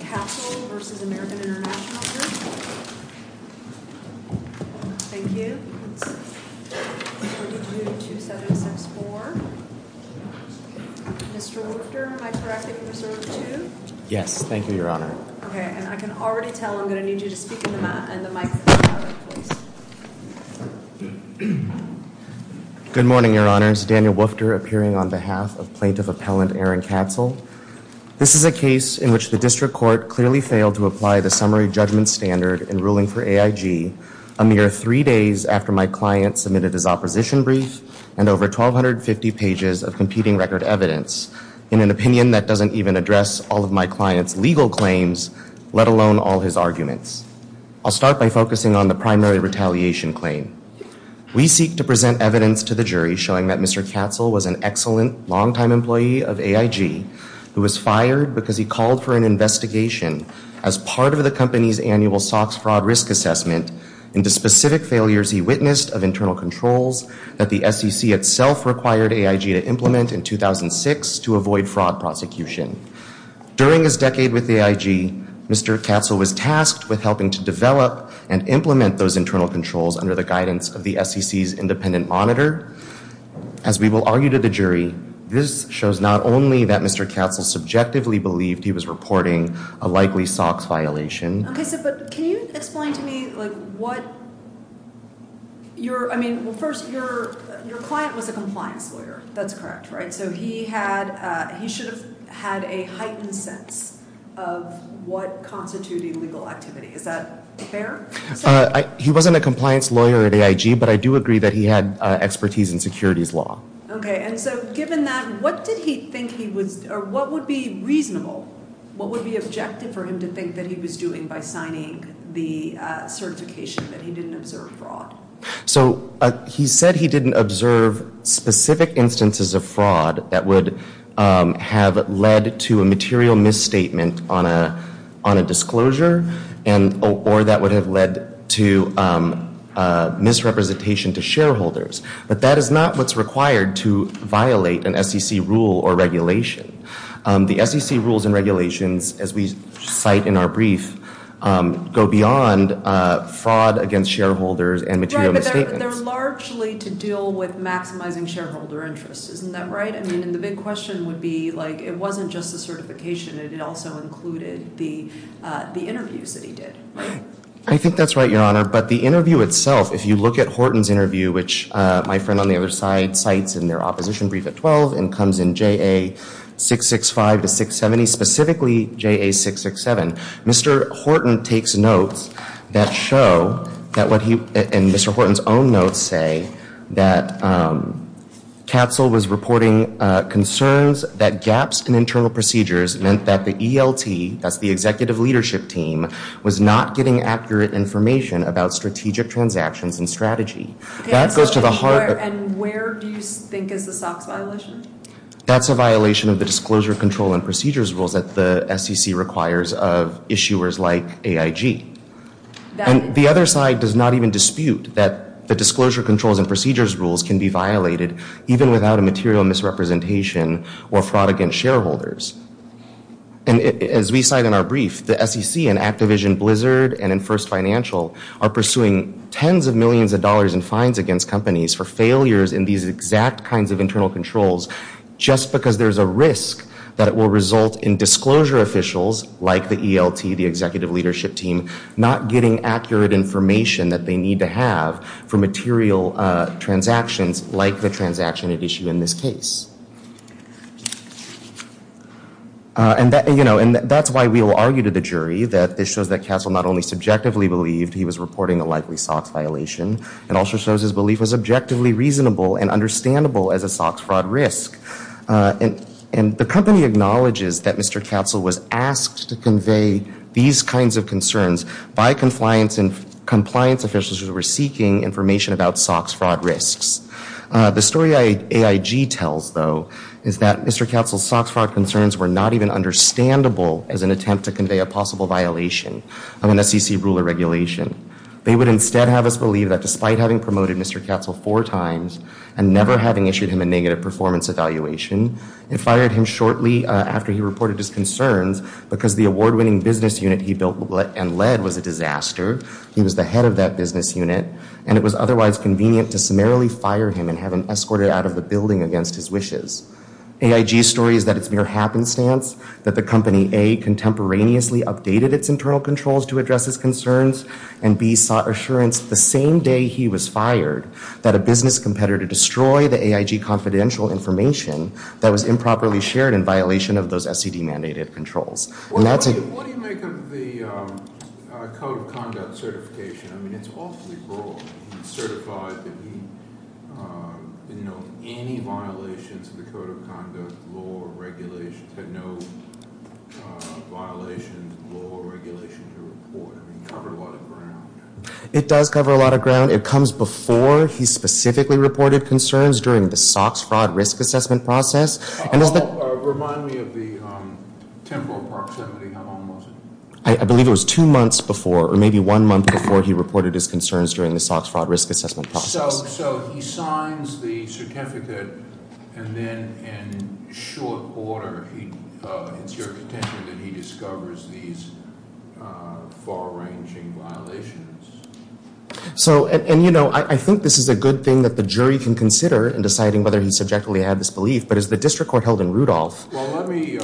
Castle v. American International Group, Inc. Thank you. 422-2764. Mr. Woofter, am I correct if you reserve two? Yes, thank you, Your Honor. Okay, and I can already tell I'm going to need you to speak in the microphone. Good morning, Your Honors. Daniel Woofter appearing on behalf of Plaintiff Appellant Aaron Katzel. This is a case in which the district court clearly failed to apply the summary judgment standard in ruling for AIG a mere three days after my client submitted his opposition brief and over 1,250 pages of competing record evidence in an opinion that doesn't even address all of my client's legal claims, let alone all his arguments. I'll start by focusing on the primary retaliation claim. We seek to present evidence to the jury showing that Mr. Katzel was an excellent longtime employee of AIG who was fired because he called for an investigation as part of the company's annual SOX fraud risk assessment into specific failures he witnessed of internal controls that the SEC itself required AIG to implement in 2006 to avoid fraud prosecution. During his decade with AIG, Mr. Katzel was tasked with helping to develop and implement those internal controls under the guidance of the SEC's independent monitor. As we will argue to the jury, this shows not only that Mr. Katzel subjectively believed he was reporting a likely SOX violation. Okay, but can you explain to me what your, I mean, first, your client was a compliance lawyer. That's correct, right? And so he had, he should have had a heightened sense of what constituted legal activity. Is that fair? He wasn't a compliance lawyer at AIG, but I do agree that he had expertise in securities law. Okay, and so given that, what did he think he was, or what would be reasonable, what would be objective for him to think that he was doing by signing the certification that he didn't observe fraud? So he said he didn't observe specific instances of fraud that would have led to a material misstatement on a disclosure or that would have led to misrepresentation to shareholders. But that is not what's required to violate an SEC rule or regulation. The SEC rules and regulations, as we cite in our brief, go beyond fraud against shareholders and material misstatements. Right, but they're largely to deal with maximizing shareholder interest. Isn't that right? I mean, and the big question would be, like, it wasn't just the certification. It also included the interviews that he did. I think that's right, Your Honor. But the interview itself, if you look at Horton's interview, which my friend on the other side cites in their opposition brief at 12 and comes in JA665 to 670, specifically JA667, Mr. Horton takes notes that show that what he, and Mr. Horton's own notes say, that Katzel was reporting concerns that gaps in internal procedures meant that the ELT, that's the executive leadership team, was not getting accurate information about strategic transactions and strategy. That goes to the heart of... And where do you think is the SOX violation? That's a violation of the disclosure control and procedures rules that the SEC requires of issuers like AIG. And the other side does not even dispute that the disclosure controls and procedures rules can be violated even without a material misrepresentation or fraud against shareholders. And as we cite in our brief, the SEC and Activision Blizzard and First Financial are pursuing tens of millions of dollars in fines against companies for failures in these exact kinds of internal controls just because there's a risk that it will result in disclosure officials like the ELT, the executive leadership team, not getting accurate information that they need to have for material transactions like the transaction at issue in this case. And that's why we will argue to the jury that this shows that Katzel not only subjectively believed he was reporting a likely SOX violation, it also shows his belief was objectively reasonable and understandable as a SOX fraud risk. And the company acknowledges that Mr. Katzel was asked to convey these kinds of concerns by compliance officials who were seeking information about SOX fraud risks. The story AIG tells, though, is that Mr. Katzel's SOX fraud concerns were not even understandable as an attempt to convey a possible violation of an SEC rule or regulation. They would instead have us believe that despite having promoted Mr. Katzel four times and never having issued him a negative performance evaluation, it fired him shortly after he reported his concerns because the award-winning business unit he built and led was a disaster. He was the head of that business unit, and it was otherwise convenient to summarily fire him and have him escorted out of the building against his wishes. AIG's story is that it's mere happenstance that the company, A, contemporaneously updated its internal controls to address his concerns, and B, sought assurance the same day he was fired that a business competitor destroyed the AIG confidential information that was improperly shared in violation of those SEC-mandated controls. What do you make of the Code of Conduct certification? I mean, it's awfully broad. It's certified that he didn't know any violations of the Code of Conduct law or regulations, had no violations of the law or regulation to report. I mean, it covered a lot of ground. It does cover a lot of ground. It comes before he specifically reported concerns during the SOX fraud risk assessment process. Remind me of the temporal proximity. How long was it? I believe it was two months before, or maybe one month before, he reported his concerns during the SOX fraud risk assessment process. So he signs the certificate, and then in short order, it's your contention that he discovers these far-ranging violations? So, and you know, I think this is a good thing that the jury can consider in deciding whether he subjectively had this belief, but as the district court held in Rudolph. Well, let me,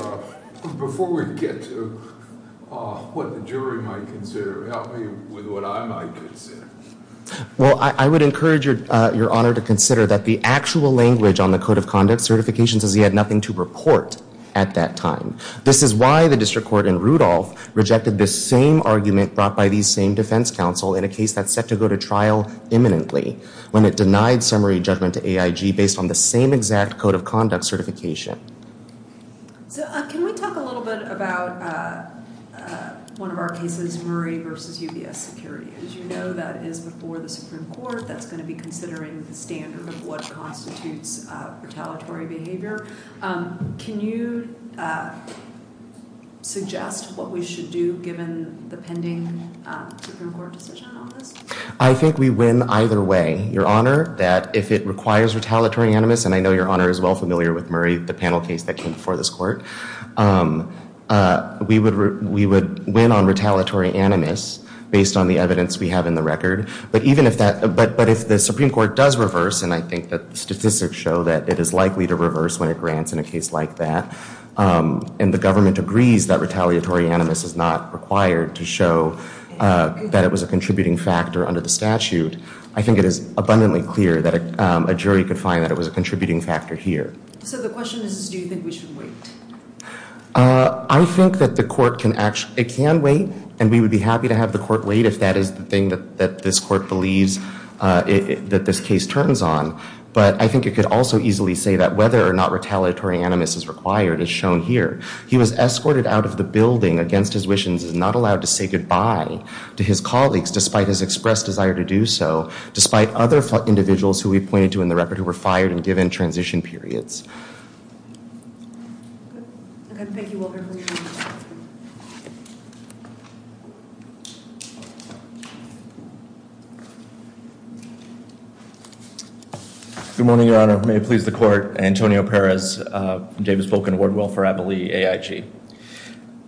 before we get to what the jury might consider, help me with what I might consider. Well, I would encourage your honor to consider that the actual language on the Code of Conduct certifications is he had nothing to report at that time. This is why the district court in Rudolph rejected the same argument brought by these same defense counsel in a case that's set to go to trial imminently, when it denied summary judgment to AIG based on the same exact Code of Conduct certification. So can we talk a little bit about one of our cases, Murray v. UBS Security? As you know, that is before the Supreme Court. That's going to be considering the standard of what constitutes retaliatory behavior. Can you suggest what we should do, given the pending Supreme Court decision on this? I think we win either way, your honor, that if it requires retaliatory animus, and I know your honor is well familiar with Murray, the panel case that came before this court, we would win on retaliatory animus based on the evidence we have in the record. But even if that, but if the Supreme Court does reverse, and I think that statistics show that it is likely to reverse when it grants in a case like that, and the government agrees that retaliatory animus is not required to show that it was a contributing factor under the statute, I think it is abundantly clear that a jury could find that it was a contributing factor here. So the question is, do you think we should wait? I think that the court can wait, and we would be happy to have the court wait, if that is the thing that this court believes that this case turns on. But I think it could also easily say that whether or not retaliatory animus is required is shown here. He was escorted out of the building against his wishes and is not allowed to say goodbye to his colleagues, despite his expressed desire to do so, despite other individuals who we pointed to in the record who were fired and given transition periods. Thank you, Wilbur. Good morning, Your Honor. May it please the court. Antonio Perez, Davis-Vulcan Award Will for Abilene AIG.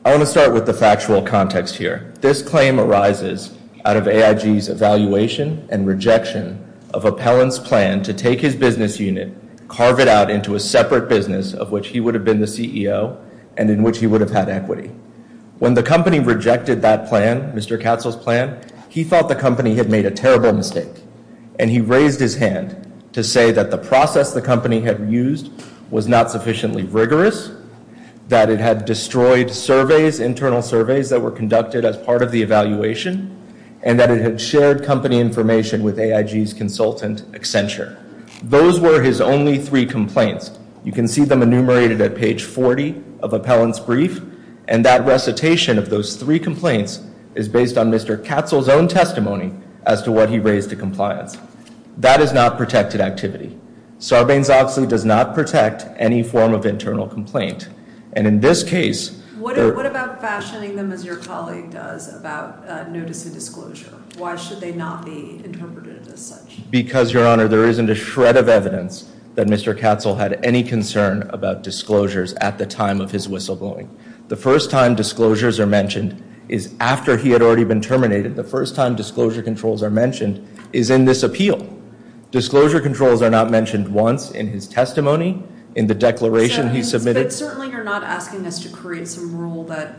I want to start with the factual context here. This claim arises out of AIG's evaluation and rejection of Appellant's plan to take his business unit, carve it out into a separate business of which he would have been the CEO, and in which he would have had equity. When the company rejected that plan, Mr. Katzel's plan, he thought the company had made a terrible mistake, and he raised his hand to say that the process the company had used was not sufficiently rigorous, that it had destroyed surveys, internal surveys that were conducted as part of the evaluation, and that it had shared company information with AIG's consultant, Accenture. Those were his only three complaints. You can see them enumerated at page 40 of Appellant's brief, and that recitation of those three complaints is based on Mr. Katzel's own testimony as to what he raised to compliance. That is not protected activity. Sarbanes-Oxley does not protect any form of internal complaint. And in this case, What about fashioning them as your colleague does about notice and disclosure? Why should they not be interpreted as such? Because, Your Honor, there isn't a shred of evidence that Mr. Katzel had any concern about disclosures at the time of his whistleblowing. The first time disclosures are mentioned is after he had already been terminated. The first time disclosure controls are mentioned is in this appeal. Disclosure controls are not mentioned once in his testimony, in the declaration he submitted. But certainly you're not asking us to create some rule that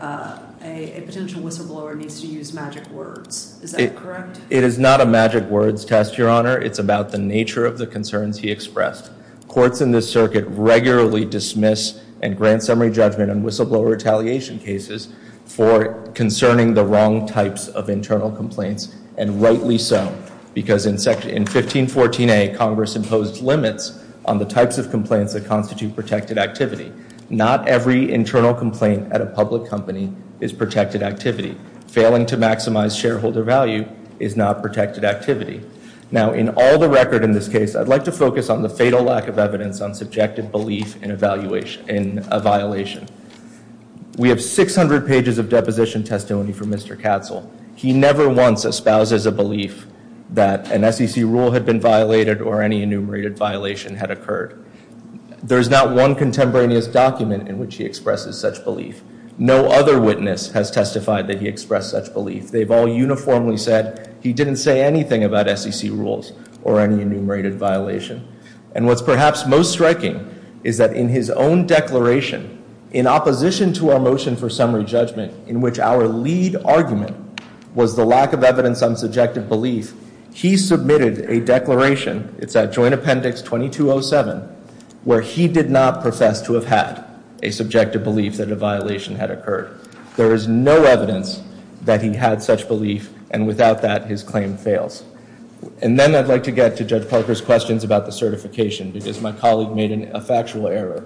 a potential whistleblower needs to use magic words. Is that correct? It is not a magic words test, Your Honor. It's about the nature of the concerns he expressed. Courts in this circuit regularly dismiss and grant summary judgment on whistleblower retaliation cases for concerning the wrong types of internal complaints. And rightly so. Because in 1514A, Congress imposed limits on the types of complaints that constitute protected activity. Not every internal complaint at a public company is protected activity. Failing to maximize shareholder value is not protected activity. Now, in all the record in this case, I'd like to focus on the fatal lack of evidence on subjective belief in a violation. We have 600 pages of deposition testimony from Mr. Katzel. He never once espouses a belief that an SEC rule had been violated or any enumerated violation had occurred. There's not one contemporaneous document in which he expresses such belief. No other witness has testified that he expressed such belief. They've all uniformly said he didn't say anything about SEC rules or any enumerated violation. And what's perhaps most striking is that in his own declaration, in opposition to our motion for summary judgment, in which our lead argument was the lack of evidence on subjective belief, he submitted a declaration. It's at Joint Appendix 2207, where he did not profess to have had a subjective belief that a violation had occurred. There is no evidence that he had such belief, and without that, his claim fails. And then I'd like to get to Judge Parker's questions about the certification, because my colleague made a factual error.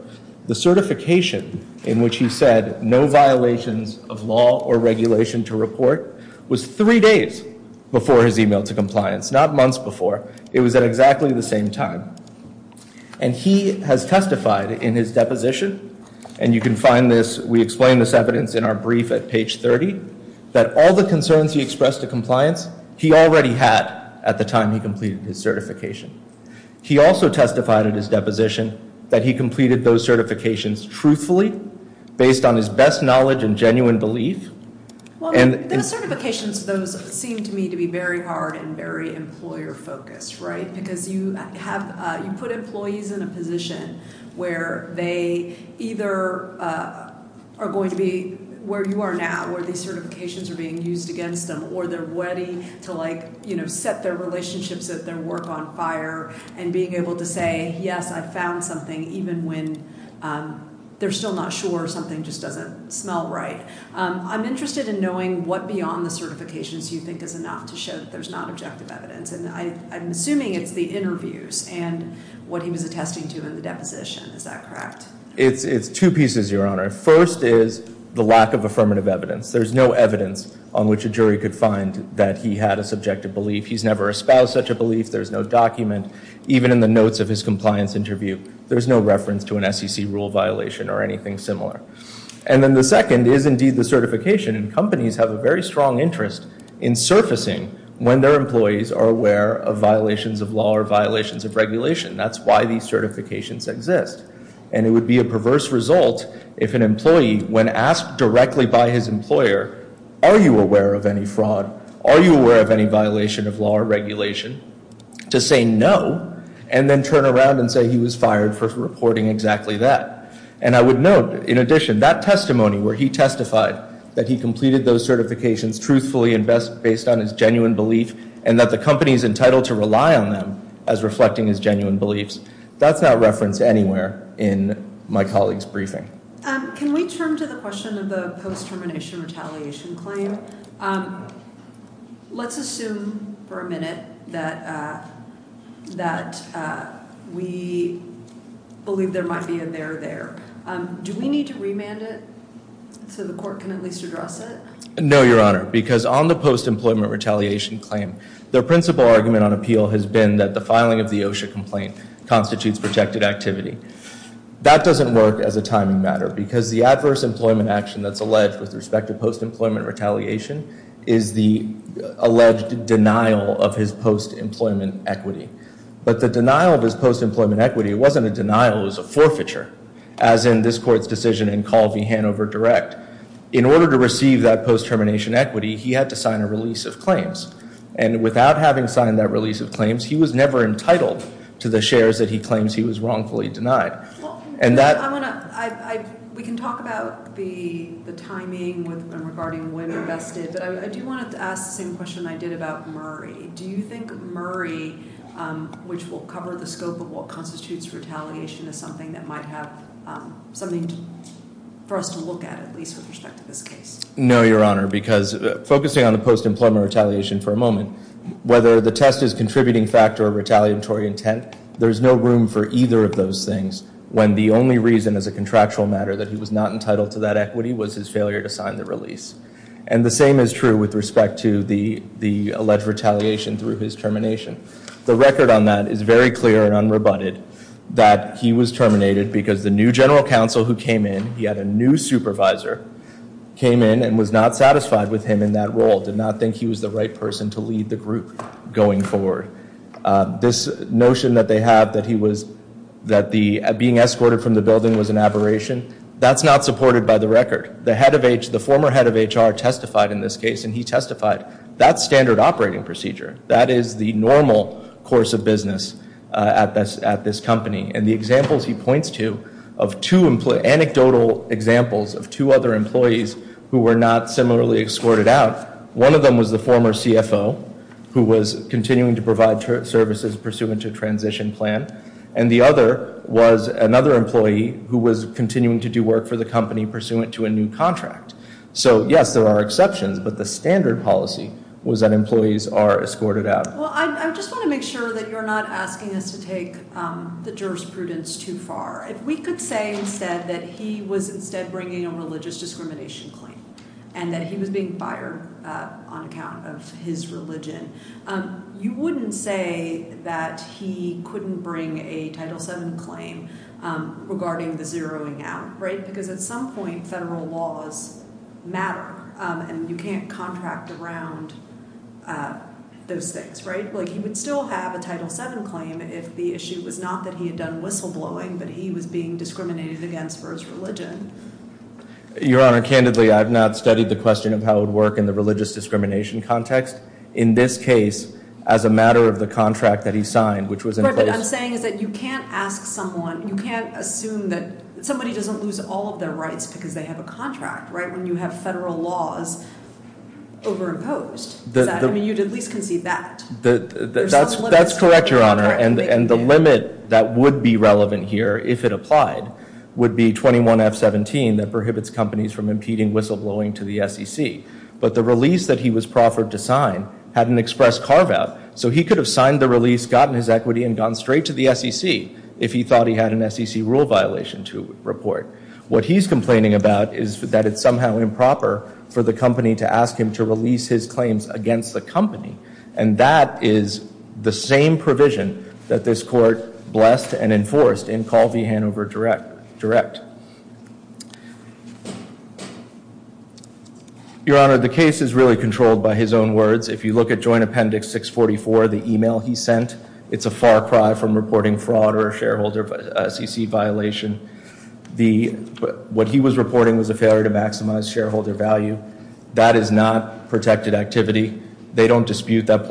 The certification in which he said no violations of law or regulation to report was three days before his email to compliance, not months before. It was at exactly the same time. And he has testified in his deposition, and you can find this, we explain this evidence in our brief at page 30, that all the concerns he expressed to compliance, he already had at the time he completed his certification. He also testified at his deposition that he completed those certifications truthfully, based on his best knowledge and genuine belief. Those certifications, those seem to me to be very hard and very employer focused, right? Because you put employees in a position where they either are going to be where you are now, where these certifications are being used against them, or they're ready to set their relationships at their work on fire, and being able to say, yes, I found something, even when they're still not sure or something just doesn't smell right. I'm interested in knowing what beyond the certifications you think is enough to show that there's not objective evidence. And I'm assuming it's the interviews and what he was attesting to in the deposition, is that correct? It's two pieces, Your Honor. First is the lack of affirmative evidence. There's no evidence on which a jury could find that he had a subjective belief. He's never espoused such a belief. There's no document. Even in the notes of his compliance interview, there's no reference to an SEC rule violation or anything similar. And then the second is indeed the certification. And companies have a very strong interest in surfacing when their employees are aware of violations of law or violations of regulation. That's why these certifications exist. And it would be a perverse result if an employee, when asked directly by his employer, are you aware of any fraud, are you aware of any violation of law or regulation, to say no, and then turn around and say he was fired for reporting exactly that. And I would note, in addition, that testimony where he testified that he completed those certifications truthfully and based on his genuine belief and that the company is entitled to rely on them as reflecting his genuine beliefs, that's not referenced anywhere in my colleague's briefing. Can we turn to the question of the post-termination retaliation claim? Let's assume for a minute that we believe there might be a there there. Do we need to remand it so the court can at least address it? No, Your Honor, because on the post-employment retaliation claim, their principal argument on appeal has been that the filing of the OSHA complaint constitutes protected activity. That doesn't work as a timing matter because the adverse employment action that's alleged with respect to post-employment retaliation is the alleged denial of his post-employment equity. But the denial of his post-employment equity wasn't a denial, it was a forfeiture, as in this Court's decision in Call v. Hanover Direct. In order to receive that post-termination equity, he had to sign a release of claims. And without having signed that release of claims, he was never entitled to the shares that he claims he was wrongfully denied. We can talk about the timing and regarding when invested, but I do want to ask the same question I did about Murray. Do you think Murray, which will cover the scope of what constitutes retaliation, is something that might have something for us to look at, at least with respect to this case? No, Your Honor, because focusing on the post-employment retaliation for a moment, whether the test is contributing factor or retaliatory intent, there's no room for either of those things when the only reason as a contractual matter that he was not entitled to that equity was his failure to sign the release. And the same is true with respect to the alleged retaliation through his termination. The record on that is very clear and unrebutted that he was terminated because the new general counsel who came in, he had a new supervisor, came in and was not satisfied with him in that role, did not think he was the right person to lead the group going forward. This notion that they have that being escorted from the building was an aberration, that's not supported by the record. The former head of HR testified in this case, and he testified, that's standard operating procedure. That is the normal course of business at this company. And the examples he points to, anecdotal examples of two other employees who were not similarly escorted out, one of them was the former CFO who was continuing to provide services pursuant to transition plan, and the other was another employee who was continuing to do work for the company pursuant to a new contract. So yes, there are exceptions, but the standard policy was that employees are escorted out. Well, I just want to make sure that you're not asking us to take the jurisprudence too far. If we could say instead that he was instead bringing a religious discrimination claim, and that he was being fired on account of his religion, you wouldn't say that he couldn't bring a Title VII claim regarding the zeroing out, right? Because at some point, federal laws matter, and you can't contract around those things, right? Like, he would still have a Title VII claim if the issue was not that he had done whistleblowing, but he was being discriminated against for his religion. Your Honor, candidly, I have not studied the question of how it would work in the religious discrimination context. In this case, as a matter of the contract that he signed, which was in place— because they have a contract, right, when you have federal laws overimposed. I mean, you'd at least concede that. That's correct, Your Honor, and the limit that would be relevant here, if it applied, would be 21F17 that prohibits companies from impeding whistleblowing to the SEC. But the release that he was proffered to sign had an express carve-out, so he could have signed the release, gotten his equity, and gone straight to the SEC if he thought he had an SEC rule violation to report. What he's complaining about is that it's somehow improper for the company to ask him to release his claims against the company, and that is the same provision that this Court blessed and enforced in Call v. Hanover Direct. Your Honor, the case is really controlled by his own words. If you look at Joint Appendix 644, the email he sent, it's a far cry from reporting fraud or a shareholder SEC violation. What he was reporting was a failure to maximize shareholder value. That is not protected activity. They don't dispute that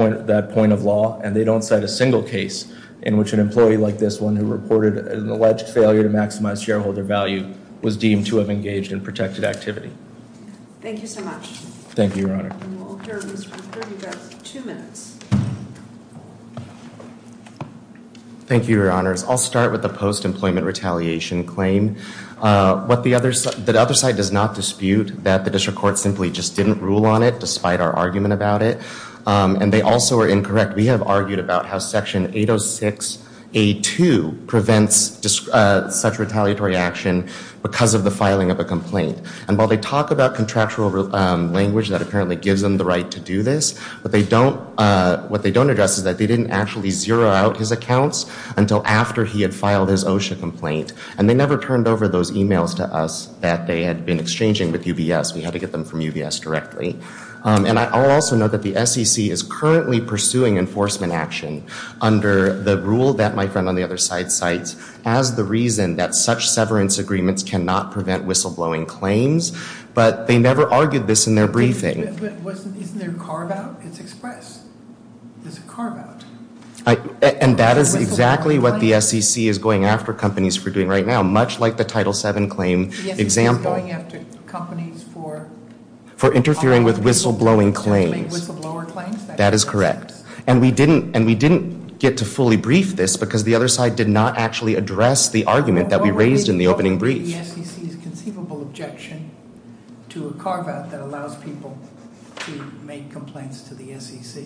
point of law, and they don't cite a single case in which an employee like this one who reported an alleged failure to maximize shareholder value was deemed to have engaged in protected activity. Thank you so much. Thank you, Your Honor. And we'll adjourn this for 32 minutes. Thank you, Your Honors. I'll start with the post-employment retaliation claim. The other side does not dispute that the district court simply just didn't rule on it despite our argument about it, and they also are incorrect. We have argued about how Section 806A2 prevents such retaliatory action because of the filing of a complaint. And while they talk about contractual language that apparently gives them the right to do this, what they don't address is that they didn't actually zero out his accounts until after he had filed his OSHA complaint, and they never turned over those emails to us that they had been exchanging with UBS. We had to get them from UBS directly. And I'll also note that the SEC is currently pursuing enforcement action under the rule that my friend on the other side cites as the reason that such severance agreements cannot prevent whistleblowing claims, but they never argued this in their briefing. And that is exactly what the SEC is going after companies for doing right now, much like the Title VII claim example. For interfering with whistleblowing claims. That is correct. And we didn't get to fully brief this because the other side did not actually address the argument that we raised in the opening brief. What would be the SEC's conceivable objection to a carve-out that allows people to make complaints to the SEC?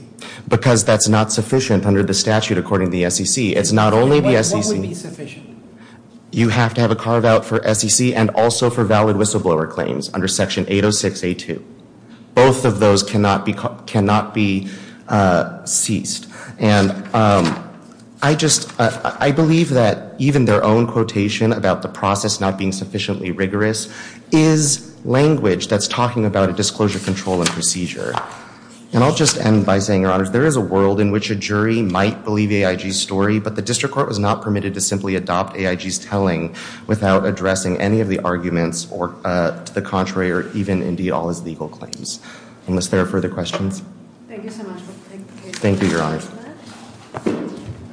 Because that's not sufficient under the statute according to the SEC. It's not only the SEC. What would be sufficient? You have to have a carve-out for SEC and also for valid whistleblower claims under Section 806A2. Both of those cannot be ceased. And I believe that even their own quotation about the process not being sufficiently rigorous is language that's talking about a disclosure control and procedure. And I'll just end by saying, Your Honors, there is a world in which a jury might believe AIG's story, but the district court was not permitted to simply adopt AIG's telling without addressing any of the arguments or to the contrary or even indeed all his legal claims. Unless there are further questions? Thank you so much. Thank you, Your Honors.